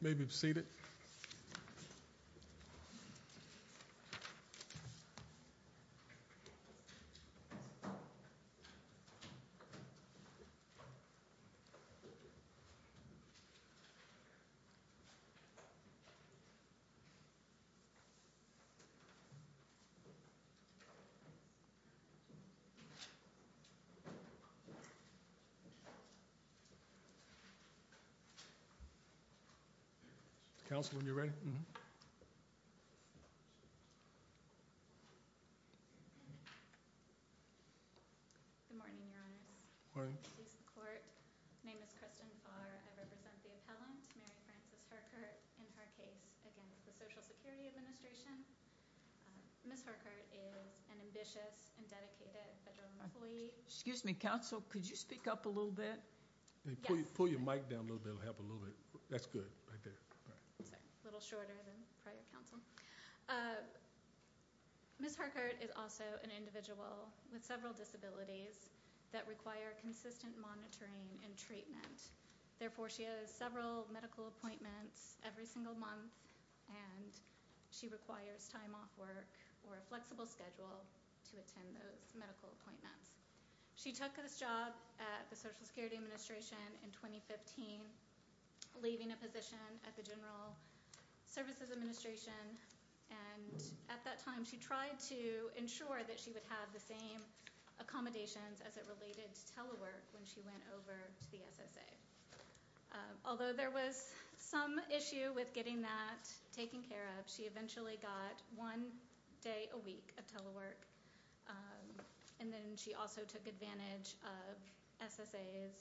You may be seated. Counsel, when you're ready. Good morning, Your Honors. Good morning. Name is Kristen Farr. I represent the appellant, Mary Frances Herkert, in her case against the Social Security Administration. Ms. Herkert is an ambitious and dedicated federal employee. Excuse me, Counsel, could you speak up a little bit? Pull your mic down a little bit. That's good. A little shorter than prior, Counsel. Ms. Herkert is also an individual with several disabilities that require consistent monitoring and treatment. Therefore, she has several medical appointments every single month, and she requires time off work or a flexible schedule to attend those medical appointments. She took this job at the Social Security Administration in 2015, leaving a position at the General Services Administration. And at that time, she tried to ensure that she would have the same accommodations as it related to telework when she went over to the SSA. Although there was some issue with getting that taken care of, she eventually got one day a week of telework. And then she also took advantage of SSA's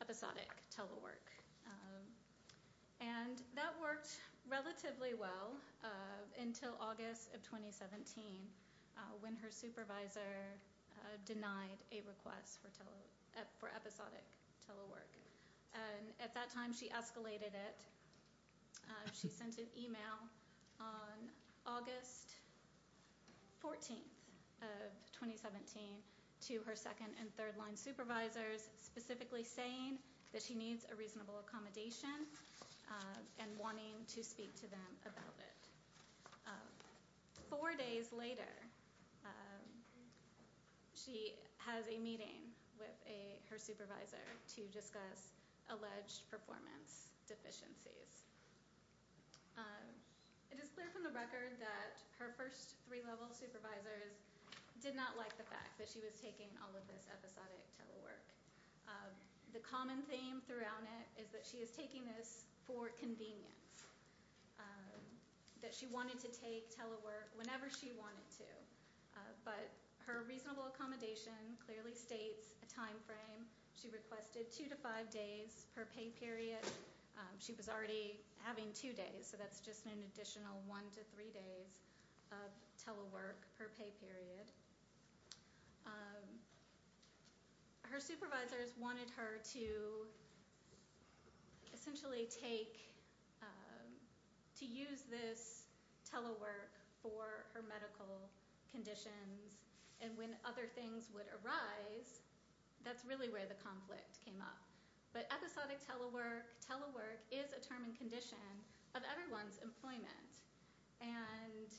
episodic telework. And that worked relatively well until August of 2017 when her supervisor denied a request for episodic telework. At that time, she escalated it. She sent an email on August 14th of 2017 to her second and third line supervisors, specifically saying that she needs a reasonable accommodation and wanting to speak to them about it. Four days later, she has a meeting with her supervisor to discuss alleged performance deficiencies. It is clear from the record that her first three level supervisors did not like the fact that she was taking all of this episodic telework. The common theme throughout it is that she is taking this for convenience. That she wanted to take telework whenever she wanted to. But her reasonable accommodation clearly states a time frame. She requested two to five days per pay period. She was already having two days, so that's just an additional one to three days of telework per pay period. Her supervisors wanted her to essentially take, to use this telework for her medical conditions. And when other things would arise, that's really where the conflict came up. But episodic telework, telework is a term and condition of everyone's employment. And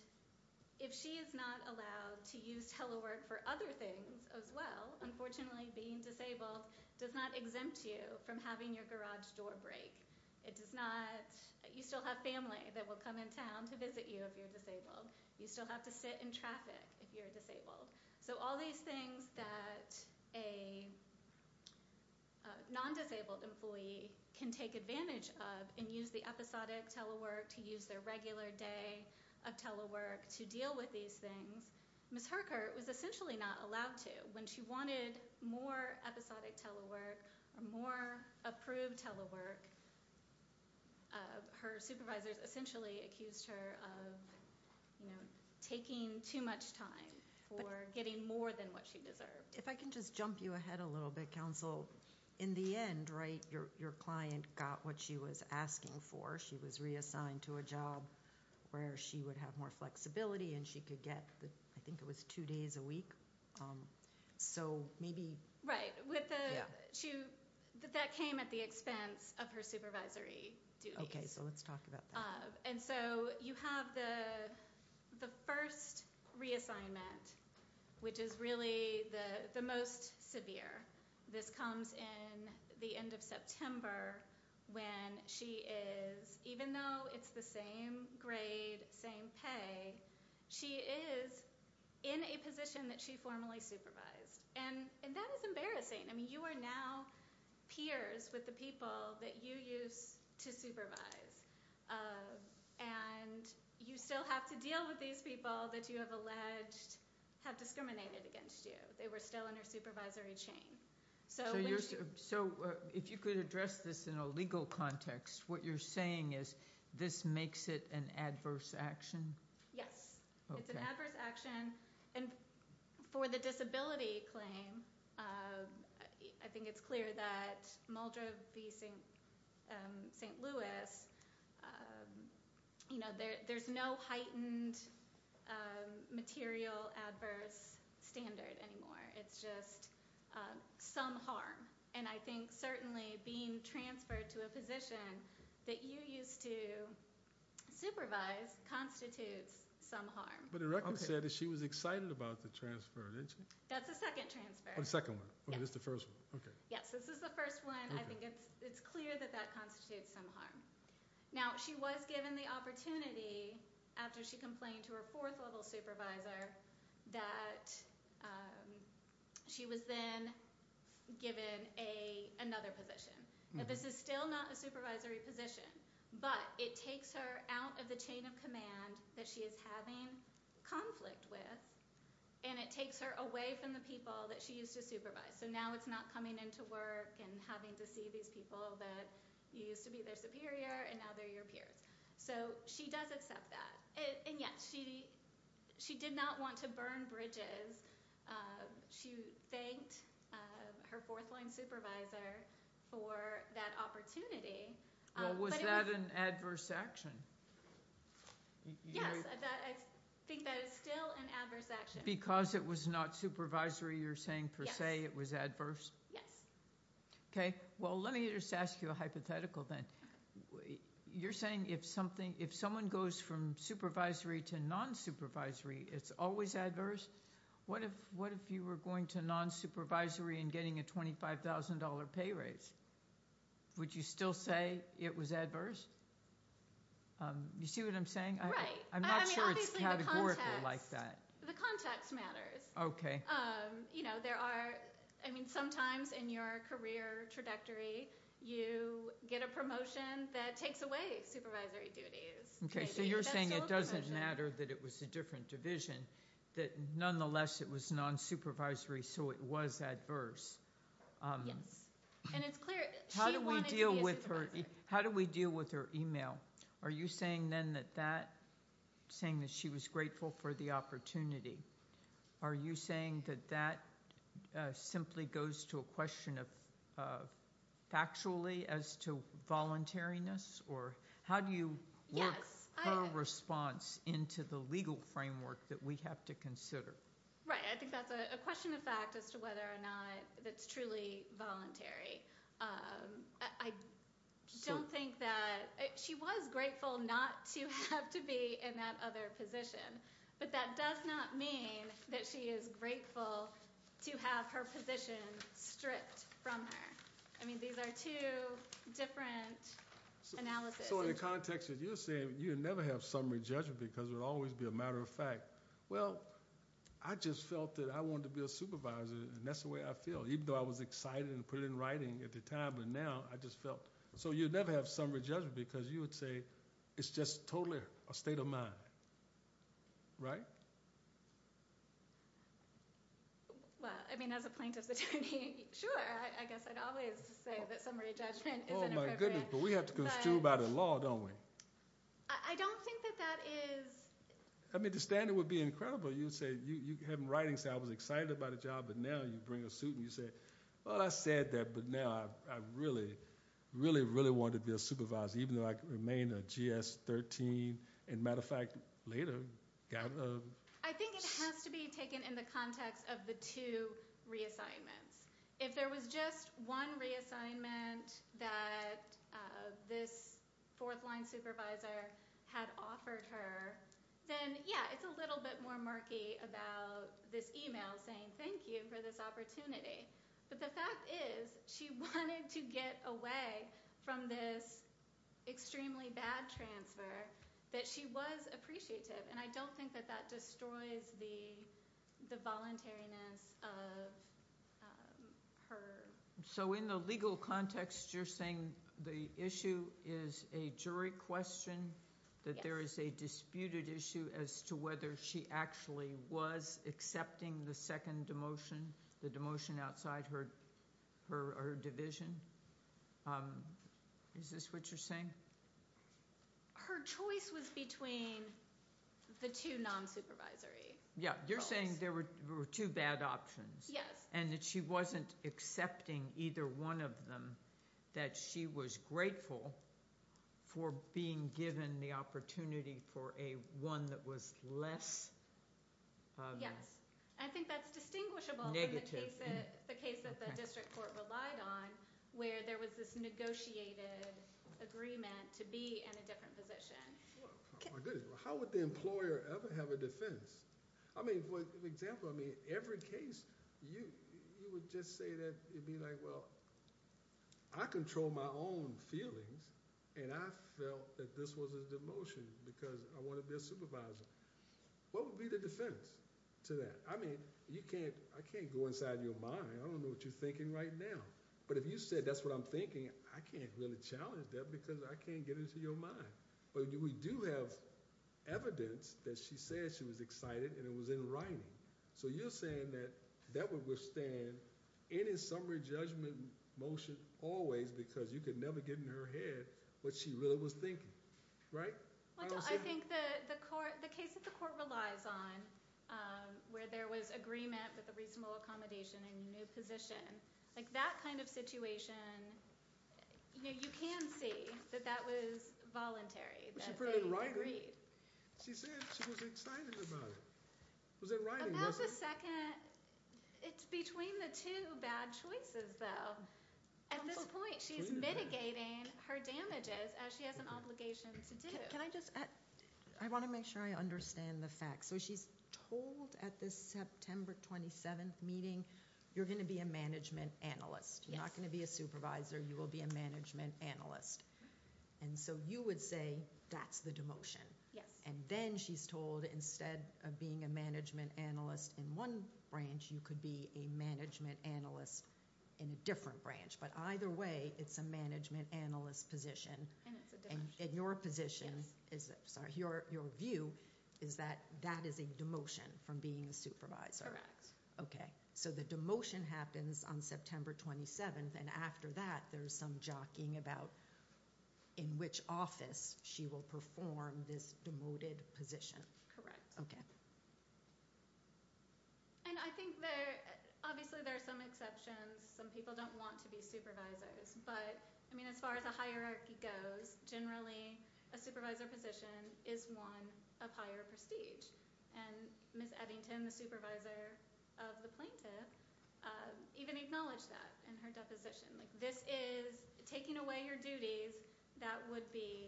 if she is not allowed to use telework for other things as well, unfortunately being disabled does not exempt you from having your garage door break. It does not, you still have family that will come in town to visit you if you're disabled. You still have to sit in traffic if you're disabled. So all these things that a non-disabled employee can take advantage of and use the episodic telework to use their regular day of telework to deal with these things. Ms. Herkert was essentially not allowed to. When she wanted more episodic telework or more approved telework, her supervisors essentially accused her of taking too much time. Or getting more than what she deserved. If I can just jump you ahead a little bit, counsel. In the end, right, your client got what she was asking for. She was reassigned to a job where she would have more flexibility and she could get, I think it was two days a week. So maybe... Right, that came at the expense of her supervisory duties. Okay, so let's talk about that. And so you have the first reassignment, which is really the most severe. This comes in the end of September when she is, even though it's the same grade, same pay, she is in a position that she formally supervised. And that is embarrassing. I mean, you are now peers with the people that you used to supervise. And you still have to deal with these people that you have alleged have discriminated against you. They were still in her supervisory chain. So if you could address this in a legal context, what you're saying is this makes it an adverse action? Yes. It's an adverse action. And for the disability claim, I think it's clear that Muldrow v. St. Louis, there's no heightened material adverse standard anymore. It's just some harm. And I think certainly being transferred to a position that you used to supervise constitutes some harm. But the record said that she was excited about the transfer, didn't she? That's the second transfer. Oh, the second one. Okay, this is the first one. Yes, this is the first one. I think it's clear that that constitutes some harm. Now, she was given the opportunity after she complained to her fourth-level supervisor that she was then given another position. This is still not a supervisory position, but it takes her out of the chain of command that she is having conflict with, and it takes her away from the people that she used to supervise. So now it's not coming into work and having to see these people that you used to be their superior, and now they're your peers. So she does accept that. And yet, she did not want to burn bridges. She thanked her fourth-line supervisor for that opportunity. Well, was that an adverse action? Yes, I think that is still an adverse action. Because it was not supervisory, you're saying, per se, it was adverse? Yes. Okay. Well, let me just ask you a hypothetical then. You're saying if someone goes from supervisory to non-supervisory, it's always adverse? What if you were going to non-supervisory and getting a $25,000 pay raise? Would you still say it was adverse? You see what I'm saying? Right. I'm not sure it's categorical like that. The context matters. Okay. I mean, sometimes in your career trajectory, you get a promotion that takes away supervisory duties. Okay. So you're saying it doesn't matter that it was a different division, that nonetheless it was non-supervisory, so it was adverse? Yes. And it's clear she wanted to be a supervisor. How do we deal with her email? Are you saying then that she was grateful for the opportunity? Are you saying that that simply goes to a question of factually as to voluntariness, or how do you work her response into the legal framework that we have to consider? Right. I think that's a question of fact as to whether or not it's truly voluntary. I don't think that – she was grateful not to have to be in that other position, but that does not mean that she is grateful to have her position stripped from her. I mean, these are two different analyses. So in the context that you're saying, you would never have summary judgment because it would always be a matter of fact. Well, I just felt that I wanted to be a supervisor, and that's the way I feel, even though I was excited and put it in writing at the time. But now I just felt – so you'd never have summary judgment because you would say it's just totally a state of mind, right? Well, I mean, as a plaintiff's attorney, sure. I guess I'd always say that summary judgment is an appropriate – Oh, my goodness, but we have to construe by the law, don't we? I don't think that that is – I mean, the standard would be incredible. You'd say – you'd have it in writing, say I was excited about a job, but now you bring a suit and you say, well, I said that, but now I really, really, really wanted to be a supervisor, even though I remained a GS-13. As a matter of fact, later – I think it has to be taken in the context of the two reassignments. If there was just one reassignment that this fourth-line supervisor had offered her, then, yeah, it's a little bit more murky about this email saying thank you for this opportunity. But the fact is she wanted to get away from this extremely bad transfer, that she was appreciative, and I don't think that that destroys the voluntariness of her – So in the legal context, you're saying the issue is a jury question, that there is a disputed issue as to whether she actually was accepting the second demotion, the demotion outside her division? Is this what you're saying? Her choice was between the two nonsupervisory roles. Yeah, you're saying there were two bad options. Yes. And that she wasn't accepting either one of them, that she was grateful for being given the opportunity for a one that was less – Yes. I think that's distinguishable from the case that the district court relied on, where there was this negotiated agreement to be in a different position. How would the employer ever have a defense? I mean, for example, every case, you would just say that, you'd be like, well, I control my own feelings, and I felt that this was a demotion because I want to be a supervisor. What would be the defense to that? I mean, I can't go inside your mind. I don't know what you're thinking right now. But if you said that's what I'm thinking, I can't really challenge that because I can't get into your mind. But we do have evidence that she said she was excited, and it was in writing. So you're saying that that would withstand any summary judgment motion always because you could never get in her head what she really was thinking, right? I think the case that the court relies on, where there was agreement with a reasonable accommodation and a new position, like that kind of situation, you can see that that was voluntary. But she put it in writing. She said she was excited about it. It was in writing, wasn't it? It's between the two bad choices, though. At this point, she's mitigating her damages as she has an obligation to do. Can I just add? I want to make sure I understand the facts. So she's told at this September 27th meeting, you're going to be a management analyst. You're not going to be a supervisor. You will be a management analyst. And so you would say that's the demotion. Yes. And then she's told instead of being a management analyst in one branch, you could be a management analyst in a different branch. But either way, it's a management analyst position. And it's a demotion. And your position is, sorry, your view is that that is a demotion from being a supervisor. Correct. Okay. So the demotion happens on September 27th. And after that, there's some jockeying about in which office she will perform this demoted position. Correct. And I think there, obviously, there are some exceptions. Some people don't want to be supervisors. But, I mean, as far as a hierarchy goes, generally, a supervisor position is one of higher prestige. And Ms. Eddington, the supervisor of the plaintiff, even acknowledged that in her deposition. Like, this is taking away your duties. That would be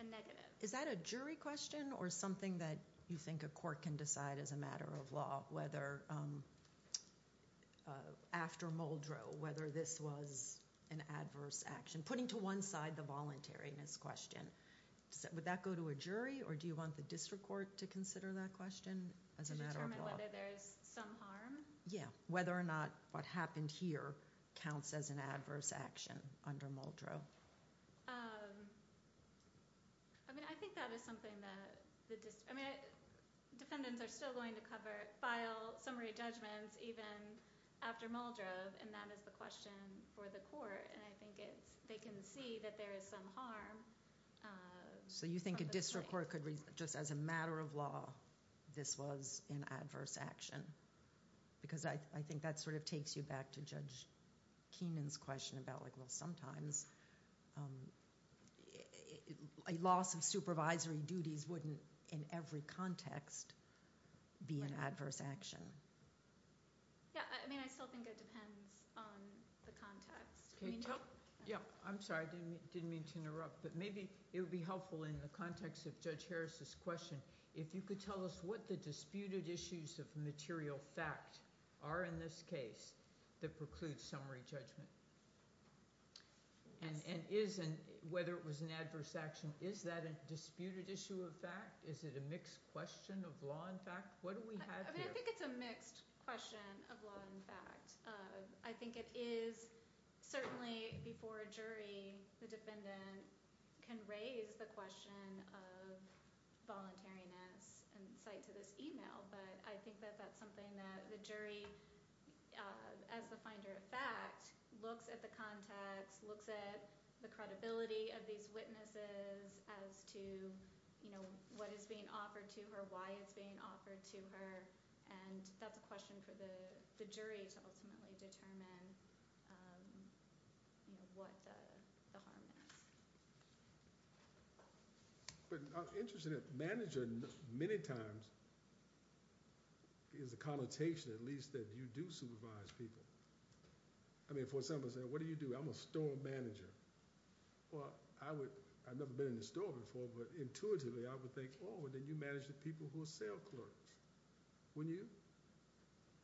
a negative. Is that a jury question or something that you think a court can decide as a matter of law? Whether after Muldrow, whether this was an adverse action? Putting to one side the voluntariness question. Would that go to a jury or do you want the district court to consider that question as a matter of law? To determine whether there is some harm? Yeah. Whether or not what happened here counts as an adverse action under Muldrow. I mean, I think that is something that the district, I mean, defendants are still going to cover, file summary judgments even after Muldrow. And that is the question for the court. And I think they can see that there is some harm. So you think a district court could, just as a matter of law, this was an adverse action? Because I think that sort of takes you back to Judge Keenan's question about, well, sometimes a loss of supervisory duties wouldn't, in every context, be an adverse action. Yeah. I mean, I still think it depends on the context. Yeah. I'm sorry. I didn't mean to interrupt. But maybe it would be helpful in the context of Judge Harris's question if you could tell us what the disputed issues of material fact are in this case that preclude summary judgment. And whether it was an adverse action, is that a disputed issue of fact? Is it a mixed question of law and fact? What do we have here? I think it's a mixed question of law and fact. I think it is certainly, before a jury, the defendant can raise the question of voluntariness and cite to this email. But I think that that's something that the jury, as the finder of fact, looks at the context, looks at the credibility of these witnesses as to, you know, what is being offered to her, why it's being offered to her. And that's a question for the jury to ultimately determine, you know, what the harm is. But I'm interested in manager many times is a connotation, at least, that you do supervise people. I mean, for example, say, what do you do? I'm a store manager. Well, I've never been in a store before, but intuitively, I would think, oh, then you manage the people who are sale clerks. Wouldn't you?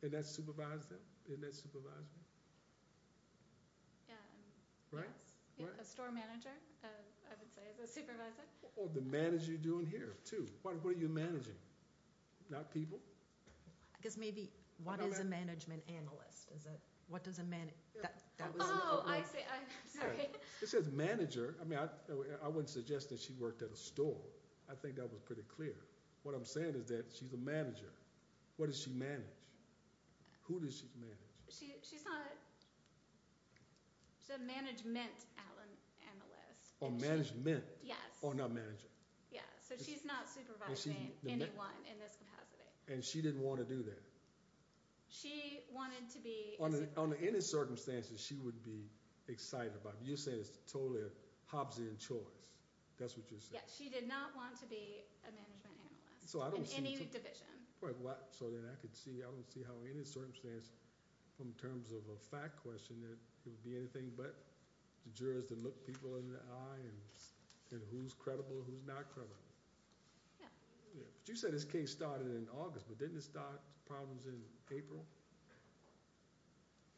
And that's supervising them? Isn't that supervising? Yeah. Right? Yeah, a store manager, I would say, is a supervisor. Or the manager you're doing here, too. What are you managing? Not people? I guess maybe what is a management analyst? What does a man do? Oh, I see. I'm sorry. It says manager. I mean, I wouldn't suggest that she worked at a store. I think that was pretty clear. What I'm saying is that she's a manager. What does she manage? Who does she manage? She's not a management analyst. Oh, management. Yes. Oh, not manager. Yeah, so she's not supervising anyone in this capacity. And she didn't want to do that? She wanted to be a supervisor. On any circumstances, she would be excited about it. You're saying it's totally a Hobbesian choice. That's what you're saying. Yeah, she did not want to be a management analyst in any division. So then I could see. I don't see how in any circumstance, in terms of a fact question, there would be anything but the jurors that look people in the eye and who's credible and who's not credible. Yeah. But you said this case started in August, but didn't it start problems in April?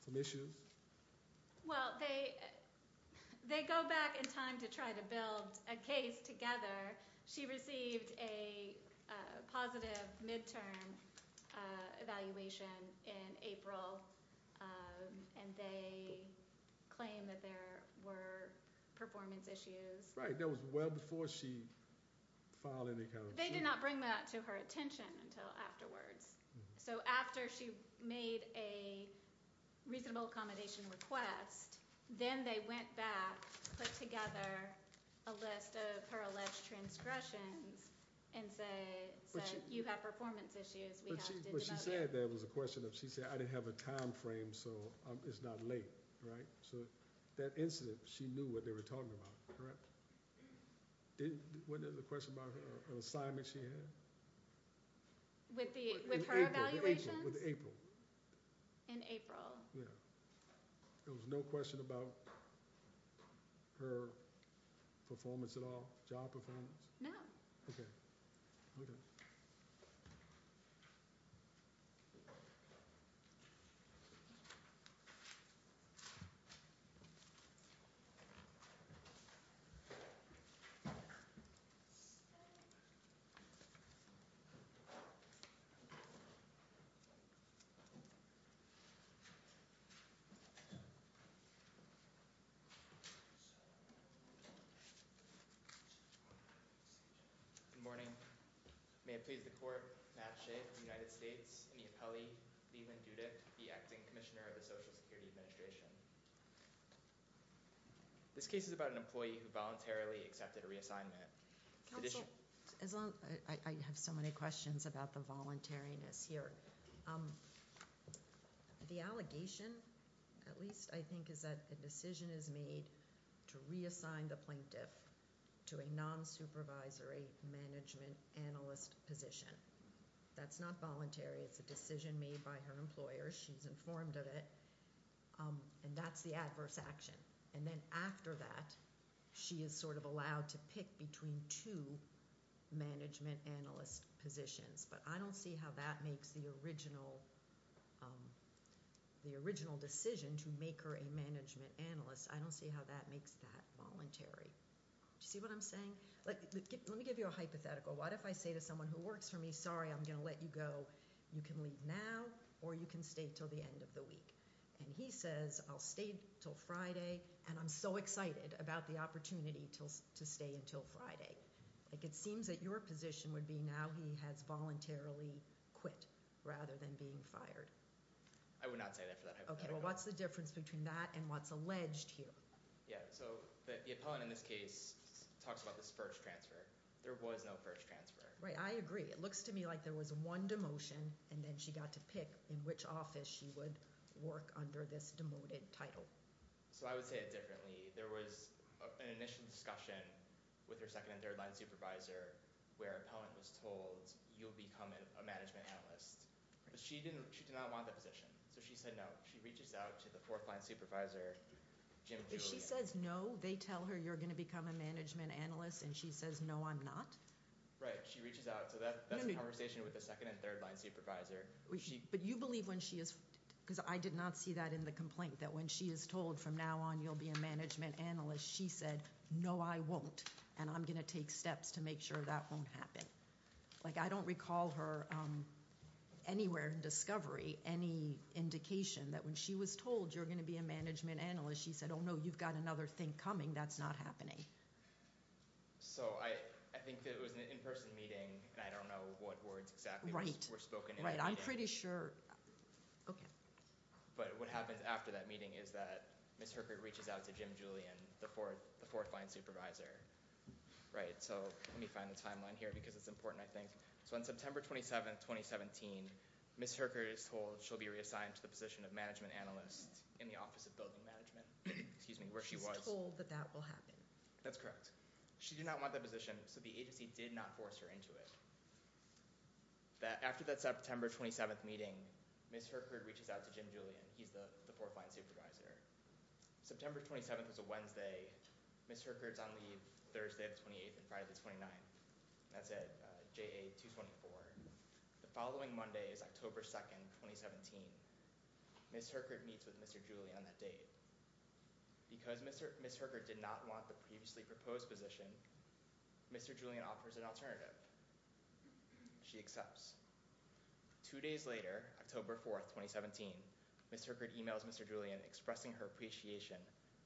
Some issues? Well, they go back in time to try to build a case together. She received a positive midterm evaluation in April, and they claimed that there were performance issues. Right. That was well before she filed any kind of suit. They did not bring that to her attention until afterwards. So after she made a reasonable accommodation request, then they went back, put together a list of her alleged transgressions, and said, you have performance issues. But she said there was a question of she said, I didn't have a time frame, so it's not late. So that incident, she knew what they were talking about. Wasn't it a question about an assignment she had? With her evaluations? With April. In April. Yeah. There was no question about her performance at all? Job performance? No. Okay. Good morning. May it please the court, Matt Shea of the United States, and the appellee, Leland Dudick, the acting commissioner of the Social Security Administration. This case is about an employee who voluntarily accepted a reassignment. Counsel, I have so many questions about the voluntariness here. The allegation, at least I think, is that the decision is made to reassign the plaintiff to a non-supervisory management analyst position. That's not voluntary. It's a decision made by her employer. She's informed of it. And that's the adverse action. And then after that, she is sort of allowed to pick between two management analyst positions. But I don't see how that makes the original decision to make her a management analyst. I don't see how that makes that voluntary. Do you see what I'm saying? Let me give you a hypothetical. What if I say to someone who works for me, sorry, I'm going to let you go. You can leave now or you can stay until the end of the week. And he says, I'll stay until Friday. And I'm so excited about the opportunity to stay until Friday. It seems that your position would be now he has voluntarily quit rather than being fired. I would not say that for that hypothetical. Okay, well what's the difference between that and what's alleged here? Yeah, so the opponent in this case talks about this first transfer. There was no first transfer. Right, I agree. It looks to me like there was one demotion and then she got to pick in to work under this demoted title. So I would say it differently. There was an initial discussion with her second and third line supervisor where her opponent was told you'll become a management analyst. But she did not want that position. So she said no. She reaches out to the fourth line supervisor, Jim Julian. If she says no, they tell her you're going to become a management analyst and she says no, I'm not? Right, she reaches out. So that's a conversation with the second and third line supervisor. But you believe when she is – because I did not see that in the complaint, that when she is told from now on you'll be a management analyst, she said no, I won't, and I'm going to take steps to make sure that won't happen. Like I don't recall her anywhere in discovery any indication that when she was told you're going to be a management analyst, she said, oh, no, you've got another thing coming. That's not happening. So I think that it was an in-person meeting and I don't know what words exactly were spoken. Right, I'm pretty sure – okay. But what happens after that meeting is that Ms. Herkert reaches out to Jim Julian, the fourth line supervisor. Right, so let me find the timeline here because it's important, I think. So on September 27, 2017, Ms. Herkert is told she'll be reassigned to the position of management analyst in the Office of Building Management. Excuse me, where she was. She's told that that will happen. That's correct. She did not want that position, so the agency did not force her into it. After that September 27 meeting, Ms. Herkert reaches out to Jim Julian. He's the fourth line supervisor. September 27 was a Wednesday. Ms. Herkert's on leave Thursday the 28th and Friday the 29th. That's at JA 224. The following Monday is October 2, 2017. Ms. Herkert meets with Mr. Julian on that date. Because Ms. Herkert did not want the previously proposed position, Mr. Julian offers an alternative. She accepts. Two days later, October 4, 2017, Ms. Herkert emails Mr. Julian expressing her appreciation.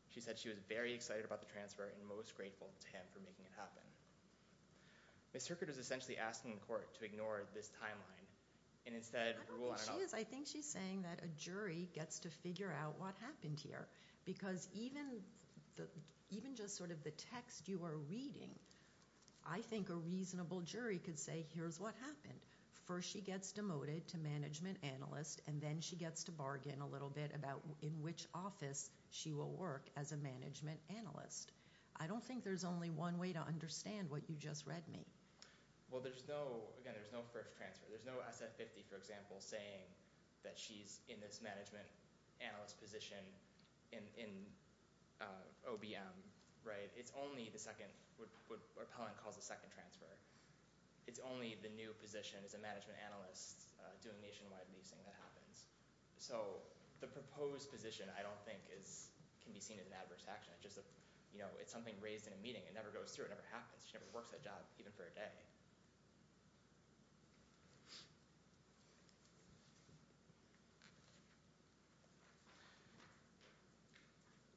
She said she was very excited about the transfer and most grateful to him for making it happen. Ms. Herkert is essentially asking the court to ignore this timeline and instead rule out another. I don't think she is. I think she's saying that a jury gets to figure out what happened here because even just sort of the text you are reading, I think a reasonable jury could say here's what happened. First she gets demoted to management analyst, and then she gets to bargain a little bit about in which office she will work as a management analyst. I don't think there's only one way to understand what you just read me. Well, again, there's no first transfer. There's no SF50, for example, saying that she's in this management analyst position in OBM. It's only the second, what Pelham calls the second transfer. It's only the new position as a management analyst doing nationwide leasing that happens. So the proposed position I don't think can be seen as an adverse action. It's something raised in a meeting. It never goes through. It never happens. She never works that job, even for a day.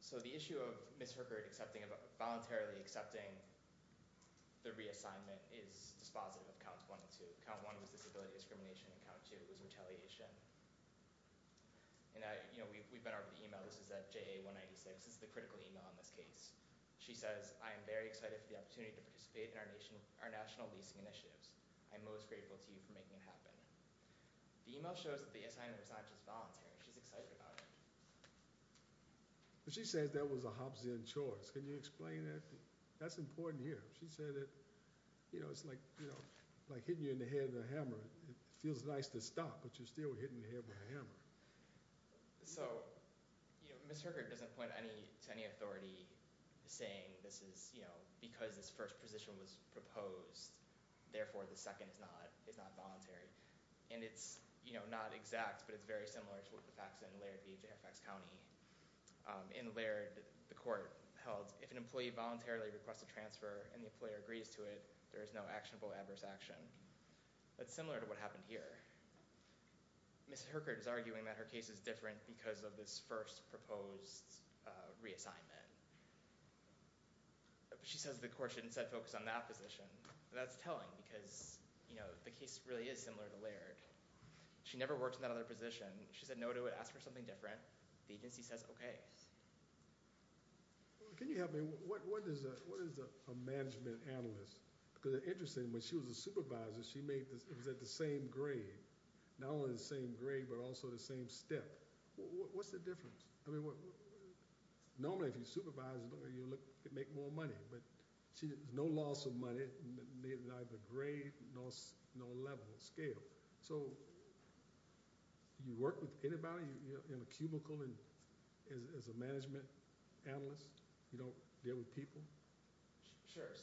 So the issue of Ms. Herbert voluntarily accepting the reassignment is dispositive of Counts 1 and 2. Count 1 was disability discrimination, and Count 2 was retaliation. We've been over the email. This is at JA196. This is the critical email in this case. She says, I am very excited for the opportunity to participate in our national leasing initiatives. I am most grateful to you for making it happen. The email shows that the assignment was not just voluntary. She's excited about it. She says that was a Hobbesian choice. Can you explain that? That's important here. She said that it's like hitting you in the head with a hammer. It feels nice to stop, but you're still hitting the head with a hammer. Ms. Herbert doesn't point to any authority saying because this first position was proposed, therefore the second is not voluntary. It's not exact, but it's very similar to what the facts in Laird v. Fairfax County. In Laird, the court held, if an employee voluntarily requests a transfer and the employer agrees to it, there is no actionable adverse action. That's similar to what happened here. Ms. Herbert is arguing that her case is different because of this first proposed reassignment. She says the court shouldn't set focus on that position. That's telling because the case really is similar to Laird. She never worked in that other position. She said no to it, asked for something different. The agency says okay. Can you help me? What is a management analyst? It's interesting. When she was a supervisor, she was at the same grade, not only the same grade, but also the same step. What's the difference? Normally, if you're a supervisor, you make more money. There's no loss of money, neither grade nor level or scale. You work with anybody in a cubicle as a management analyst? You don't deal with people? Sure.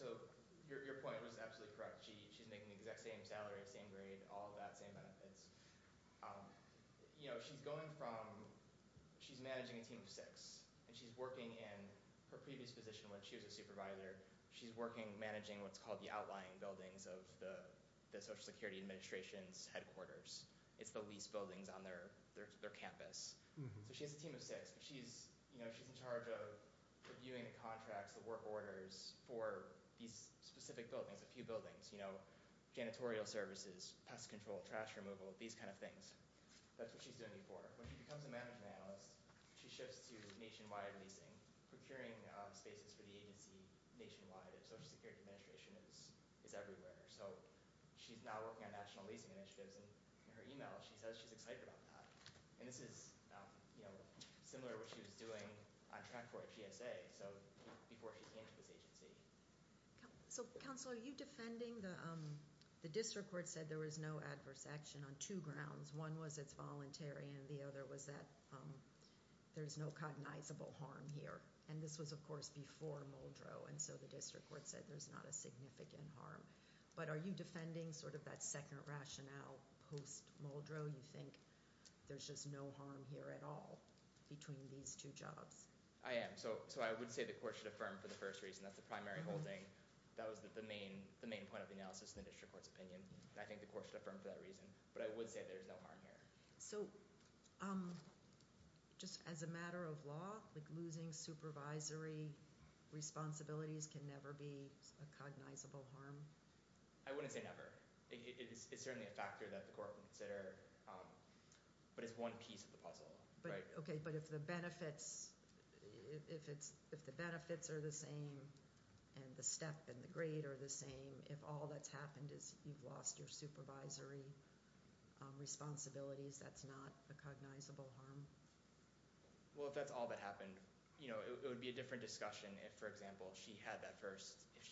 Your point was absolutely correct. She's making the exact same salary, same grade, all of that, same benefits. She's managing a team of six. She's working in her previous position when she was a supervisor. She's managing what's called the outlying buildings of the Social Security Administration's headquarters. It's the least buildings on their campus. She has a team of six. She's in charge of reviewing the contracts, the work orders for these specific buildings, a few buildings, janitorial services, pest control, trash removal, these kind of things. That's what she's doing before. When she becomes a management analyst, she shifts to nationwide leasing, procuring spaces for the agency nationwide. The Social Security Administration is everywhere. She's now working on national leasing initiatives. In her email, she says she's excited about that. This is similar to what she was doing on track for at GSA. Before she came to this agency. Counselor, are you defending, the district court said there was no adverse action on two grounds. One was it's voluntary and the other was that there's no cognizable harm here. This was, of course, before Muldrow. The district court said there's not a significant harm. Are you defending that second rationale post-Muldrow? You think there's just no harm here at all between these two jobs? I am. I would say the court should affirm for the first reason that's the primary holding. That was the main point of the analysis in the district court's opinion. I think the court should affirm for that reason. I would say there's no harm here. As a matter of law, losing supervisory responsibilities can never be a cognizable harm? I wouldn't say never. It's certainly a factor that the court would consider. It's one piece of the puzzle. If the benefits are the same and the step and the grade are the same, if all that's happened is you've lost your supervisory responsibilities, that's not a cognizable harm? If that's all that happened, it would be a different discussion if, for example, she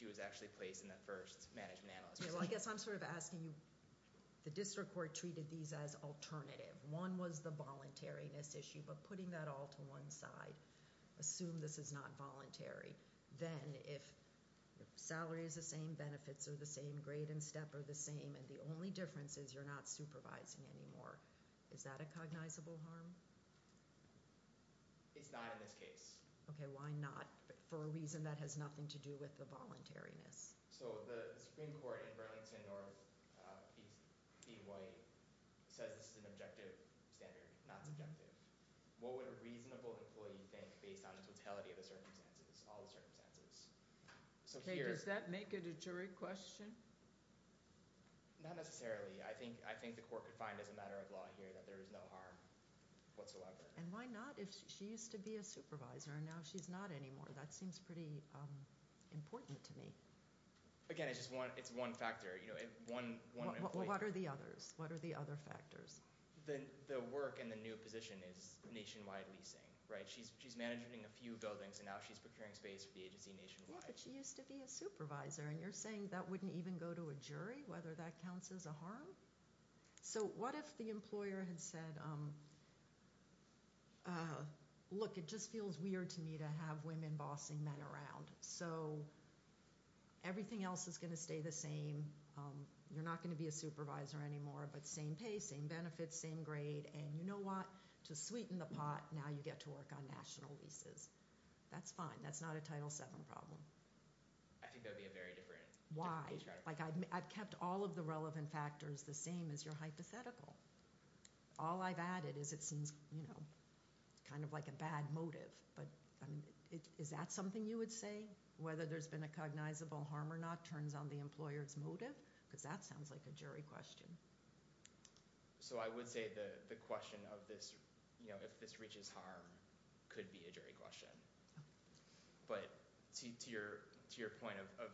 was actually placed in that first management analysis. I'm asking you, the district court treated these as alternative. One was the voluntariness issue, but putting that all to one side, assume this is not voluntary. Then if salary is the same, benefits are the same, grade and step are the same, and the only difference is you're not supervising anymore, is that a cognizable harm? It's not in this case. Okay, why not? For a reason that has nothing to do with the voluntariness. The Supreme Court in Burlington or B. White says this is an objective standard, not subjective. What would a reasonable employee think based on the totality of the circumstances, all the circumstances? Does that make it a jury question? Not necessarily. I think the court could find as a matter of law here that there is no harm whatsoever. Why not? If she used to be a supervisor and now she's not anymore, that seems pretty important to me. Again, it's one factor. What are the others? What are the other factors? The work and the new position is nationwide leasing. She's managing a few buildings and now she's procuring space for the agency nationwide. Yeah, but she used to be a supervisor, and you're saying that wouldn't even go to a jury, whether that counts as a harm? So what if the employer had said, look, it just feels weird to me to have women bossing men around, so everything else is going to stay the same, you're not going to be a supervisor anymore, but same pay, same benefits, same grade, and you know what? To sweeten the pot, now you get to work on national leases. That's fine. That's not a Title VII problem. I think that would be a very different strategy. I've kept all of the relevant factors the same as your hypothetical. All I've added is it seems kind of like a bad motive, but is that something you would say, whether there's been a cognizable harm or not as a motive? Because that sounds like a jury question. So I would say the question of this, if this reaches harm, could be a jury question. But to your point of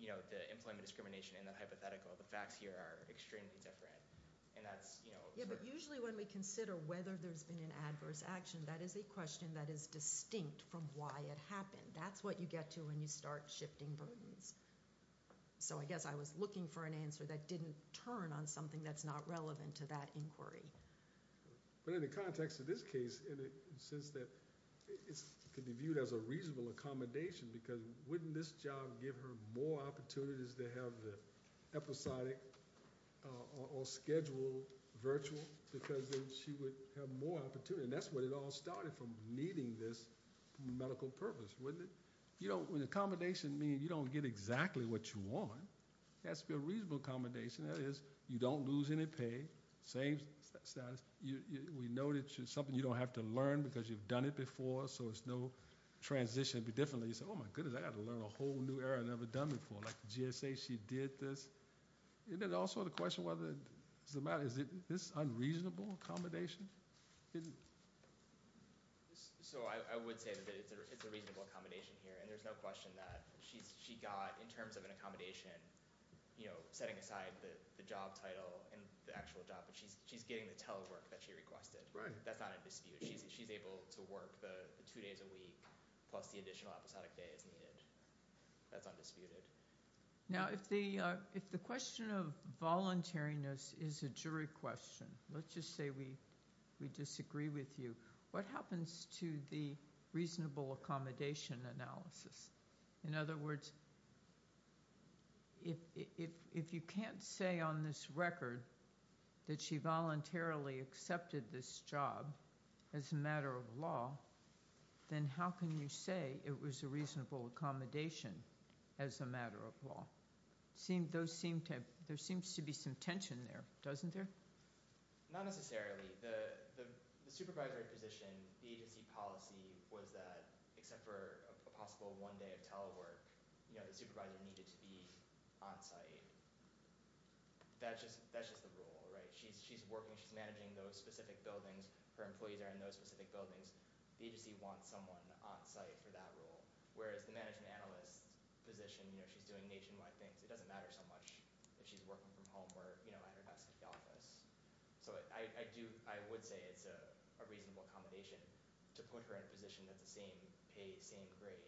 the employment discrimination and the hypothetical, the facts here are extremely different. Yeah, but usually when we consider whether there's been an adverse action, that is a question that is distinct from why it happened. That's what you get to when you start shifting burdens. So I guess I was looking for an answer that didn't turn on something that's not relevant to that inquiry. But in the context of this case, in the sense that it could be viewed as a reasonable accommodation, because wouldn't this job give her more opportunities to have the episodic or scheduled virtual, because then she would have more opportunity? And that's where it all started, from needing this medical purpose, wouldn't it? When accommodation means you don't get exactly what you want, it has to be a reasonable accommodation. That is, you don't lose any pay, same status. We know that it's something you don't have to learn because you've done it before, so it's no transition. But definitely you say, oh my goodness, I got to learn a whole new area I've never done before. Like the GSA, she did this. And then also the question whether it doesn't matter, is this unreasonable accommodation? So I would say that it's a reasonable accommodation here. And there's no question that she got, in terms of an accommodation, setting aside the job title and the actual job, but she's getting the telework that she requested. That's not a dispute. She's able to work the two days a week, plus the additional episodic day as needed. That's undisputed. Now if the question of voluntariness is a jury question, let's just say we disagree with you. What happens to the reasonable accommodation analysis? In other words, if you can't say on this record that she voluntarily accepted this job as a matter of law, then how can you say it was a reasonable accommodation as a matter of law? There seems to be some tension there, doesn't there? Not necessarily. The supervisory position, the agency policy, was that except for a possible one day of telework, the supervisor needed to be on-site. That's just the rule, right? She's working, she's managing those specific buildings. Her employees are in those specific buildings. The agency wants someone on-site for that role. Whereas the management analyst position, she's doing nationwide things. It doesn't matter so much if she's working from home or at her desk in the office. I would say it's a reasonable accommodation to put her in a position that's the same pay, same grade,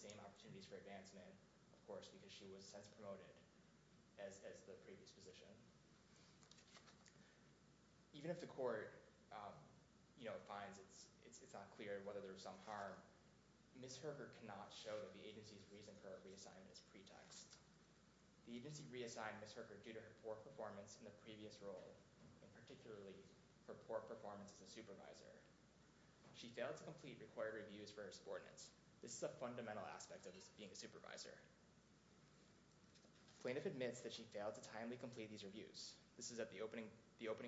same opportunities for advancement, of course, because she was as promoted as the previous position. Even if the court finds it's not clear whether there was some harm, Ms. Herker cannot show that the agency's reason for her reassignment is pretext. The agency reassigned Ms. Herker due to her poor performance in the previous role, particularly her poor performance as a supervisor. She failed to complete required reviews for her subordinates. This is a fundamental aspect of being a supervisor. Plaintiff admits that she failed to timely complete these reviews. This is at the opening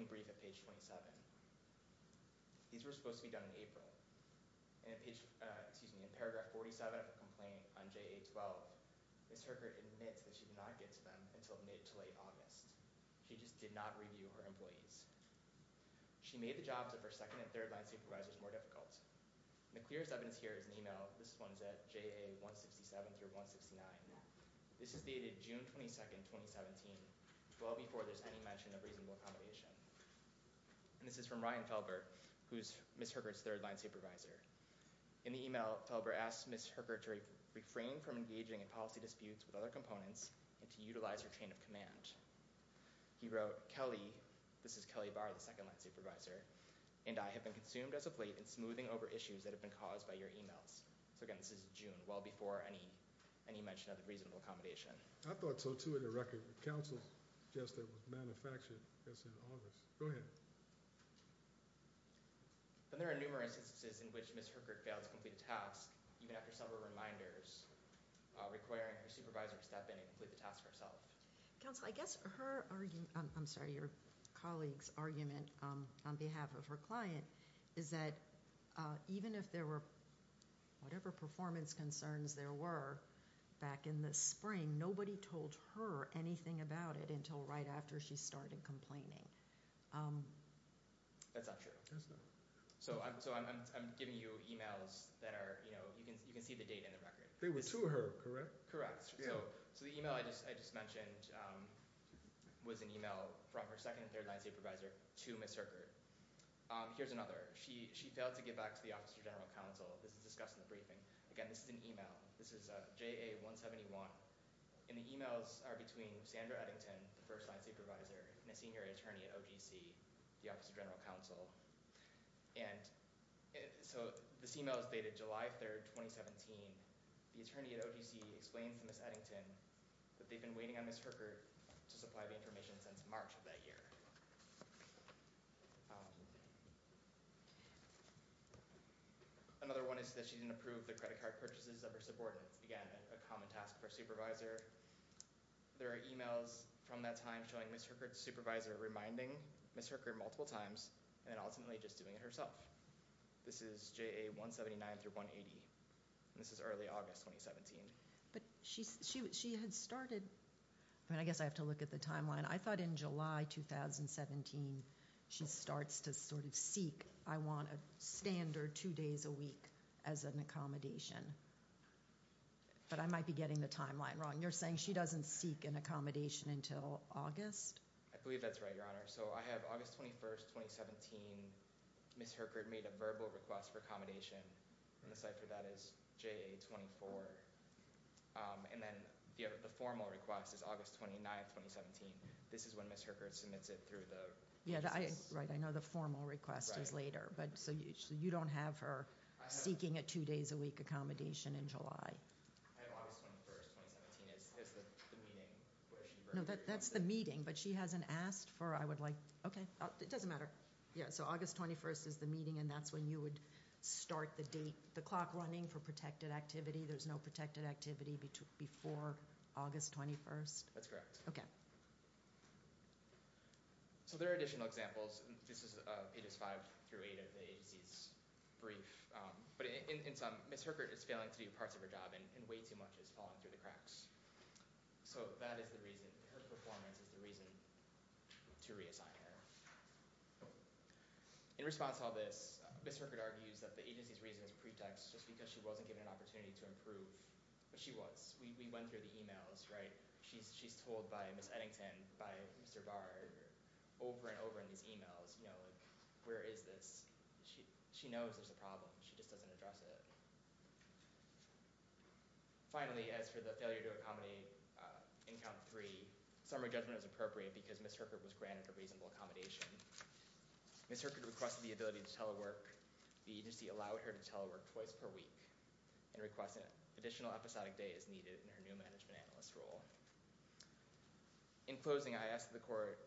brief at page 27. These were supposed to be done in April. In paragraph 47 of the complaint on JA-12, Ms. Herker admits that she did not get to them until mid to late August. She just did not review her employees. She made the jobs of her second and third line supervisors more difficult. The clearest evidence here is an email. This one's at JA-167 through 169. This is dated June 22, 2017, well before there's any mention of reasonable accommodation. And this is from Ryan Felber, who's Ms. Herker's third line supervisor. In the email, Felber asks Ms. Herker to refrain from engaging in policy disputes with other components and to utilize her chain of command. He wrote, Kelly, this is Kelly Barr, the second line supervisor, and I have been consumed as a plate in smoothing over issues that have been caused by your emails. So again, this is June, well before any mention of reasonable accommodation. I thought so, too, in the record. The counsel suggested it was manufactured, I guess, in August. Go ahead. Then there are numerous instances in which Ms. Herker failed to complete a task, even after several reminders, requiring her supervisor to step in and complete the task herself. Counsel, I guess her argument, I'm sorry, your colleague's argument on behalf of her client is that even if there were, whatever performance concerns there were back in the spring, nobody told her anything about it until right after she started complaining. That's not true. So I'm giving you emails that are, you know, they were to her, correct? So the email I just mentioned was an email from her second and third line supervisor to Ms. Herker. Here's another. She failed to get back to the Office of General Counsel. This is discussed in the briefing. Again, this is an email. This is JA-171. And the emails are between Sandra Eddington, the first line supervisor, and a senior attorney at OGC, the Office of General Counsel. And so this email is dated July 3rd, 2017. The attorney at OGC explains to Ms. Eddington that they've been waiting on Ms. Herker to supply the information since March of that year. Another one is that she didn't approve the credit card purchases of her subordinates. Again, a common task for a supervisor. There are emails from that time showing Ms. Herker's supervisor reminding Ms. Herker multiple times, and then ultimately just doing it herself. This is JA-179 through 180. And this is early August 2017. But she had started... I mean, I guess I have to look at the timeline. I thought in July 2017, she starts to sort of seek, I want a standard two days a week as an accommodation. But I might be getting the timeline wrong. You're saying she doesn't seek an accommodation until August? I believe that's right, Your Honor. So I have August 21st, 2017. Ms. Herker made a verbal request for accommodation. The cipher that is JA-24. And then the formal request is August 29th, 2017. This is when Ms. Herker submits it through the... Right, I know the formal request is later. So you don't have her seeking a two days a week accommodation in July. I have August 21st, 2017. That's the meeting where she verbally requested. No, that's the meeting. But she hasn't asked for, I would like... Okay, it doesn't matter. Yeah, so August 21st is the meeting and that's when you would start the date, the clock running for protected activity. There's no protected activity before August 21st? That's correct. Okay. So there are additional examples. This is pages five through eight of the agency's brief. But in sum, Ms. Herker is failing to do parts of her job and way too much is falling through the cracks. So that is the reason. Her performance is the reason to reassign her. In response to all this, Ms. Herker argues that the agency's reason is pretext just because she wasn't given an opportunity to improve. But she was. We went through the emails, right? She's told by Ms. Eddington, by Mr. Bard, over and over in these emails, you know, like, where is this? She knows there's a problem. She just doesn't address it. Finally, as for the failure to accommodate in count three, summary judgment is appropriate because Ms. Herker was granted a reasonable accommodation. Ms. Herker requested the ability to telework. The agency allowed her to telework twice per week and requested an additional episodic day as needed in her new management analyst role. In closing, I ask that the court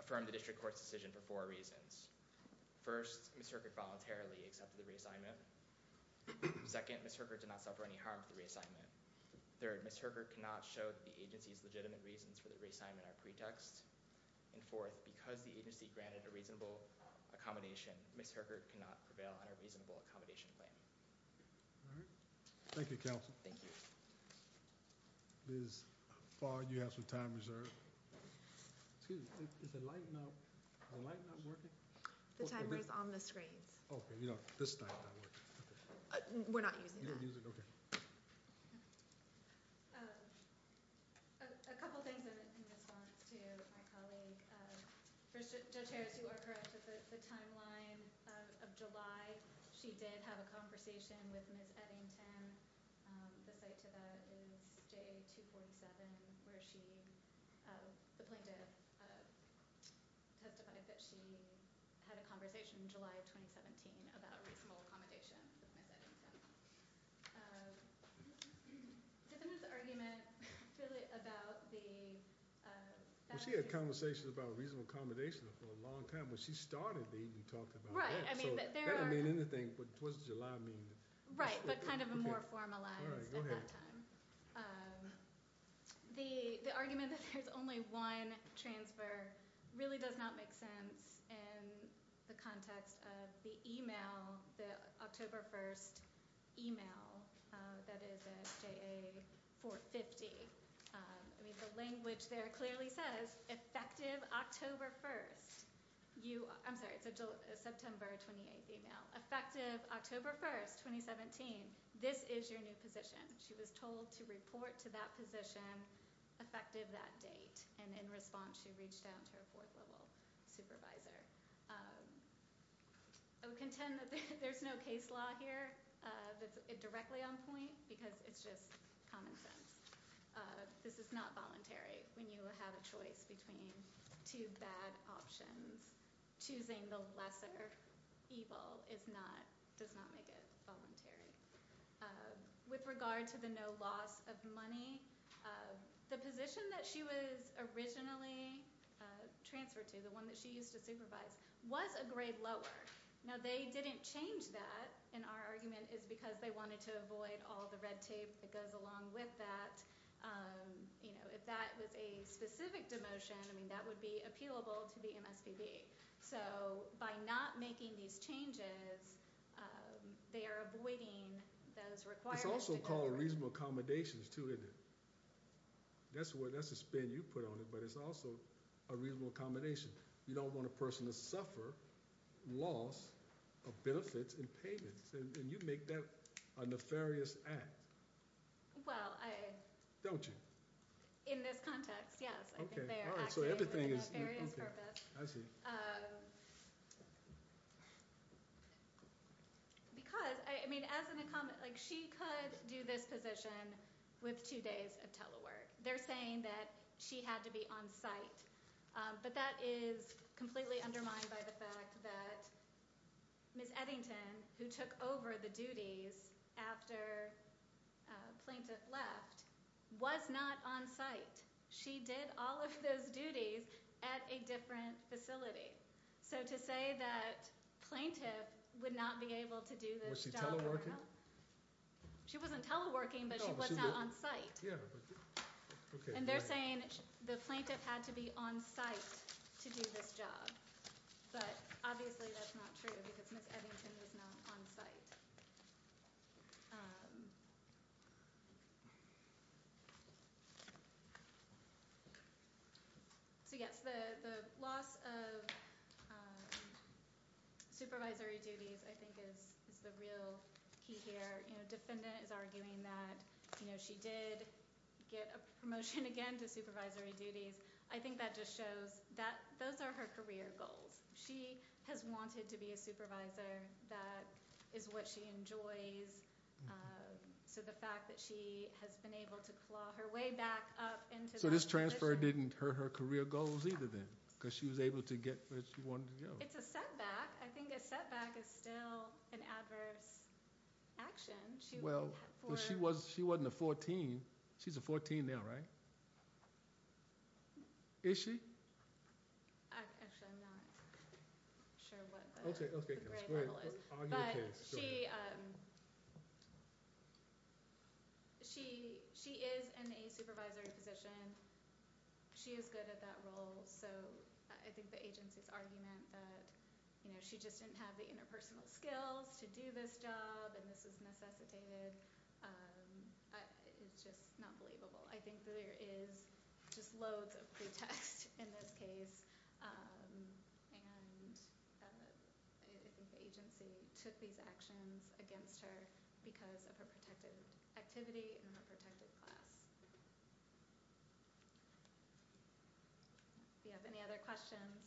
affirm the district court's decision for four reasons. First, Ms. Herker voluntarily accepted the reassignment. Second, Ms. Herker did not suffer any harm with the reassignment. Third, Ms. Herker cannot show the agency's legitimate reasons for the reassignment are pretext. And fourth, because the agency granted a reasonable accommodation, Ms. Herker cannot prevail on a reasonable accommodation plan. All right. Thank you, counsel. Thank you. Ms. Bard, you have some time reserved. Excuse me, is the light not working? The timer is on the screens. Oh, okay. You know, this time it's not working. Okay. We're not using that. You don't use it? Okay. A couple things in response to my colleague. First, Judge Harris, you are correct that the timeline of July, she did have a conversation with Ms. Eddington. The site to that is day 247 where she, the plaintiff testified that she had a conversation in July of 2017 about reasonable accommodation with Ms. Eddington. Given this argument about the... She had a conversation about reasonable accommodation for a long time. When she started, you talked about that. That doesn't mean anything. What does July mean? Right. But kind of a more formalized at that time. All right. The argument that there's only one transfer really does not make sense in the context of the email, the October 1st email that is at JA 450. I mean, the language there clearly says, effective October 1st. I'm sorry, it's a September 28th email. Effective October 1st, 2017. This is your new position. She was told to report to that position effective that date. And in response, she reached out to her fourth level supervisor. I would contend that there's no case law here that's directly on point because it's just common sense. This is not voluntary when you have a choice between two bad options. Choosing the lesser evil does not make it voluntary. With regard to the no loss of money, the position that she was originally transferred to, the one that she used to supervise, was a grade lower. Now, they didn't change that in our argument is because they wanted to avoid all the red tape that goes along with that. If that was a specific demotion, I mean, that would be appealable to the MSPB. So by not making these changes, they are avoiding those requirements. It's also called reasonable accommodations, too, isn't it? That's a spin you put on it, but it's also a reasonable accommodation. You don't want a person to suffer loss of benefits and payments. And you make that a nefarious act. Well, I... Don't you? In this context, yes. I think they are acting with a nefarious purpose. I see. Because, I mean, as an accom... Like, she could do this position with two days of telework. They're saying that she had to be on site. But that is completely undermined by the fact that Ms Eddington, who took over the duties after Plaintiff left, was not on site. She did all of those duties at a different facility. So to say that Plaintiff would not be able to do this job... Was she teleworking? She wasn't teleworking, but she was not on site. Yeah, but... And they're saying the Plaintiff had to be on site to do this job. But, obviously, that's not true, because Ms Eddington was not on site. Um... So, yes, the loss of supervisory duties, I think, is the real key here. You know, defendant is arguing that, you know, she did get a promotion again to supervisory duties. I think that just shows that those are her career goals. She has wanted to be a supervisor. That is what she enjoys. So the fact that she has been able to claw her way back up... So this transfer didn't hurt her career goals either, then? Because she was able to get where she wanted to go. It's a setback. I think a setback is still an adverse action. Well, she wasn't a 14. She's a 14 now, right? Is she? Actually, I'm not sure what the grade level is. But she is in a supervisory position. She is good at that role. So I think the agency's argument that, you know, she just didn't have the interpersonal skills to do this job and this is necessitated is just not believable. I think there is just loads of pretext in this case. And I think the agency took these actions against her because of her protected activity and her protected class. Do you have any other questions?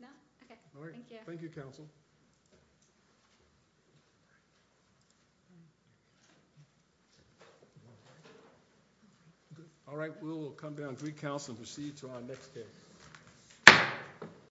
No? Okay, thank you. Thank you, counsel. All right, we'll come down to recounsel and proceed to our next case.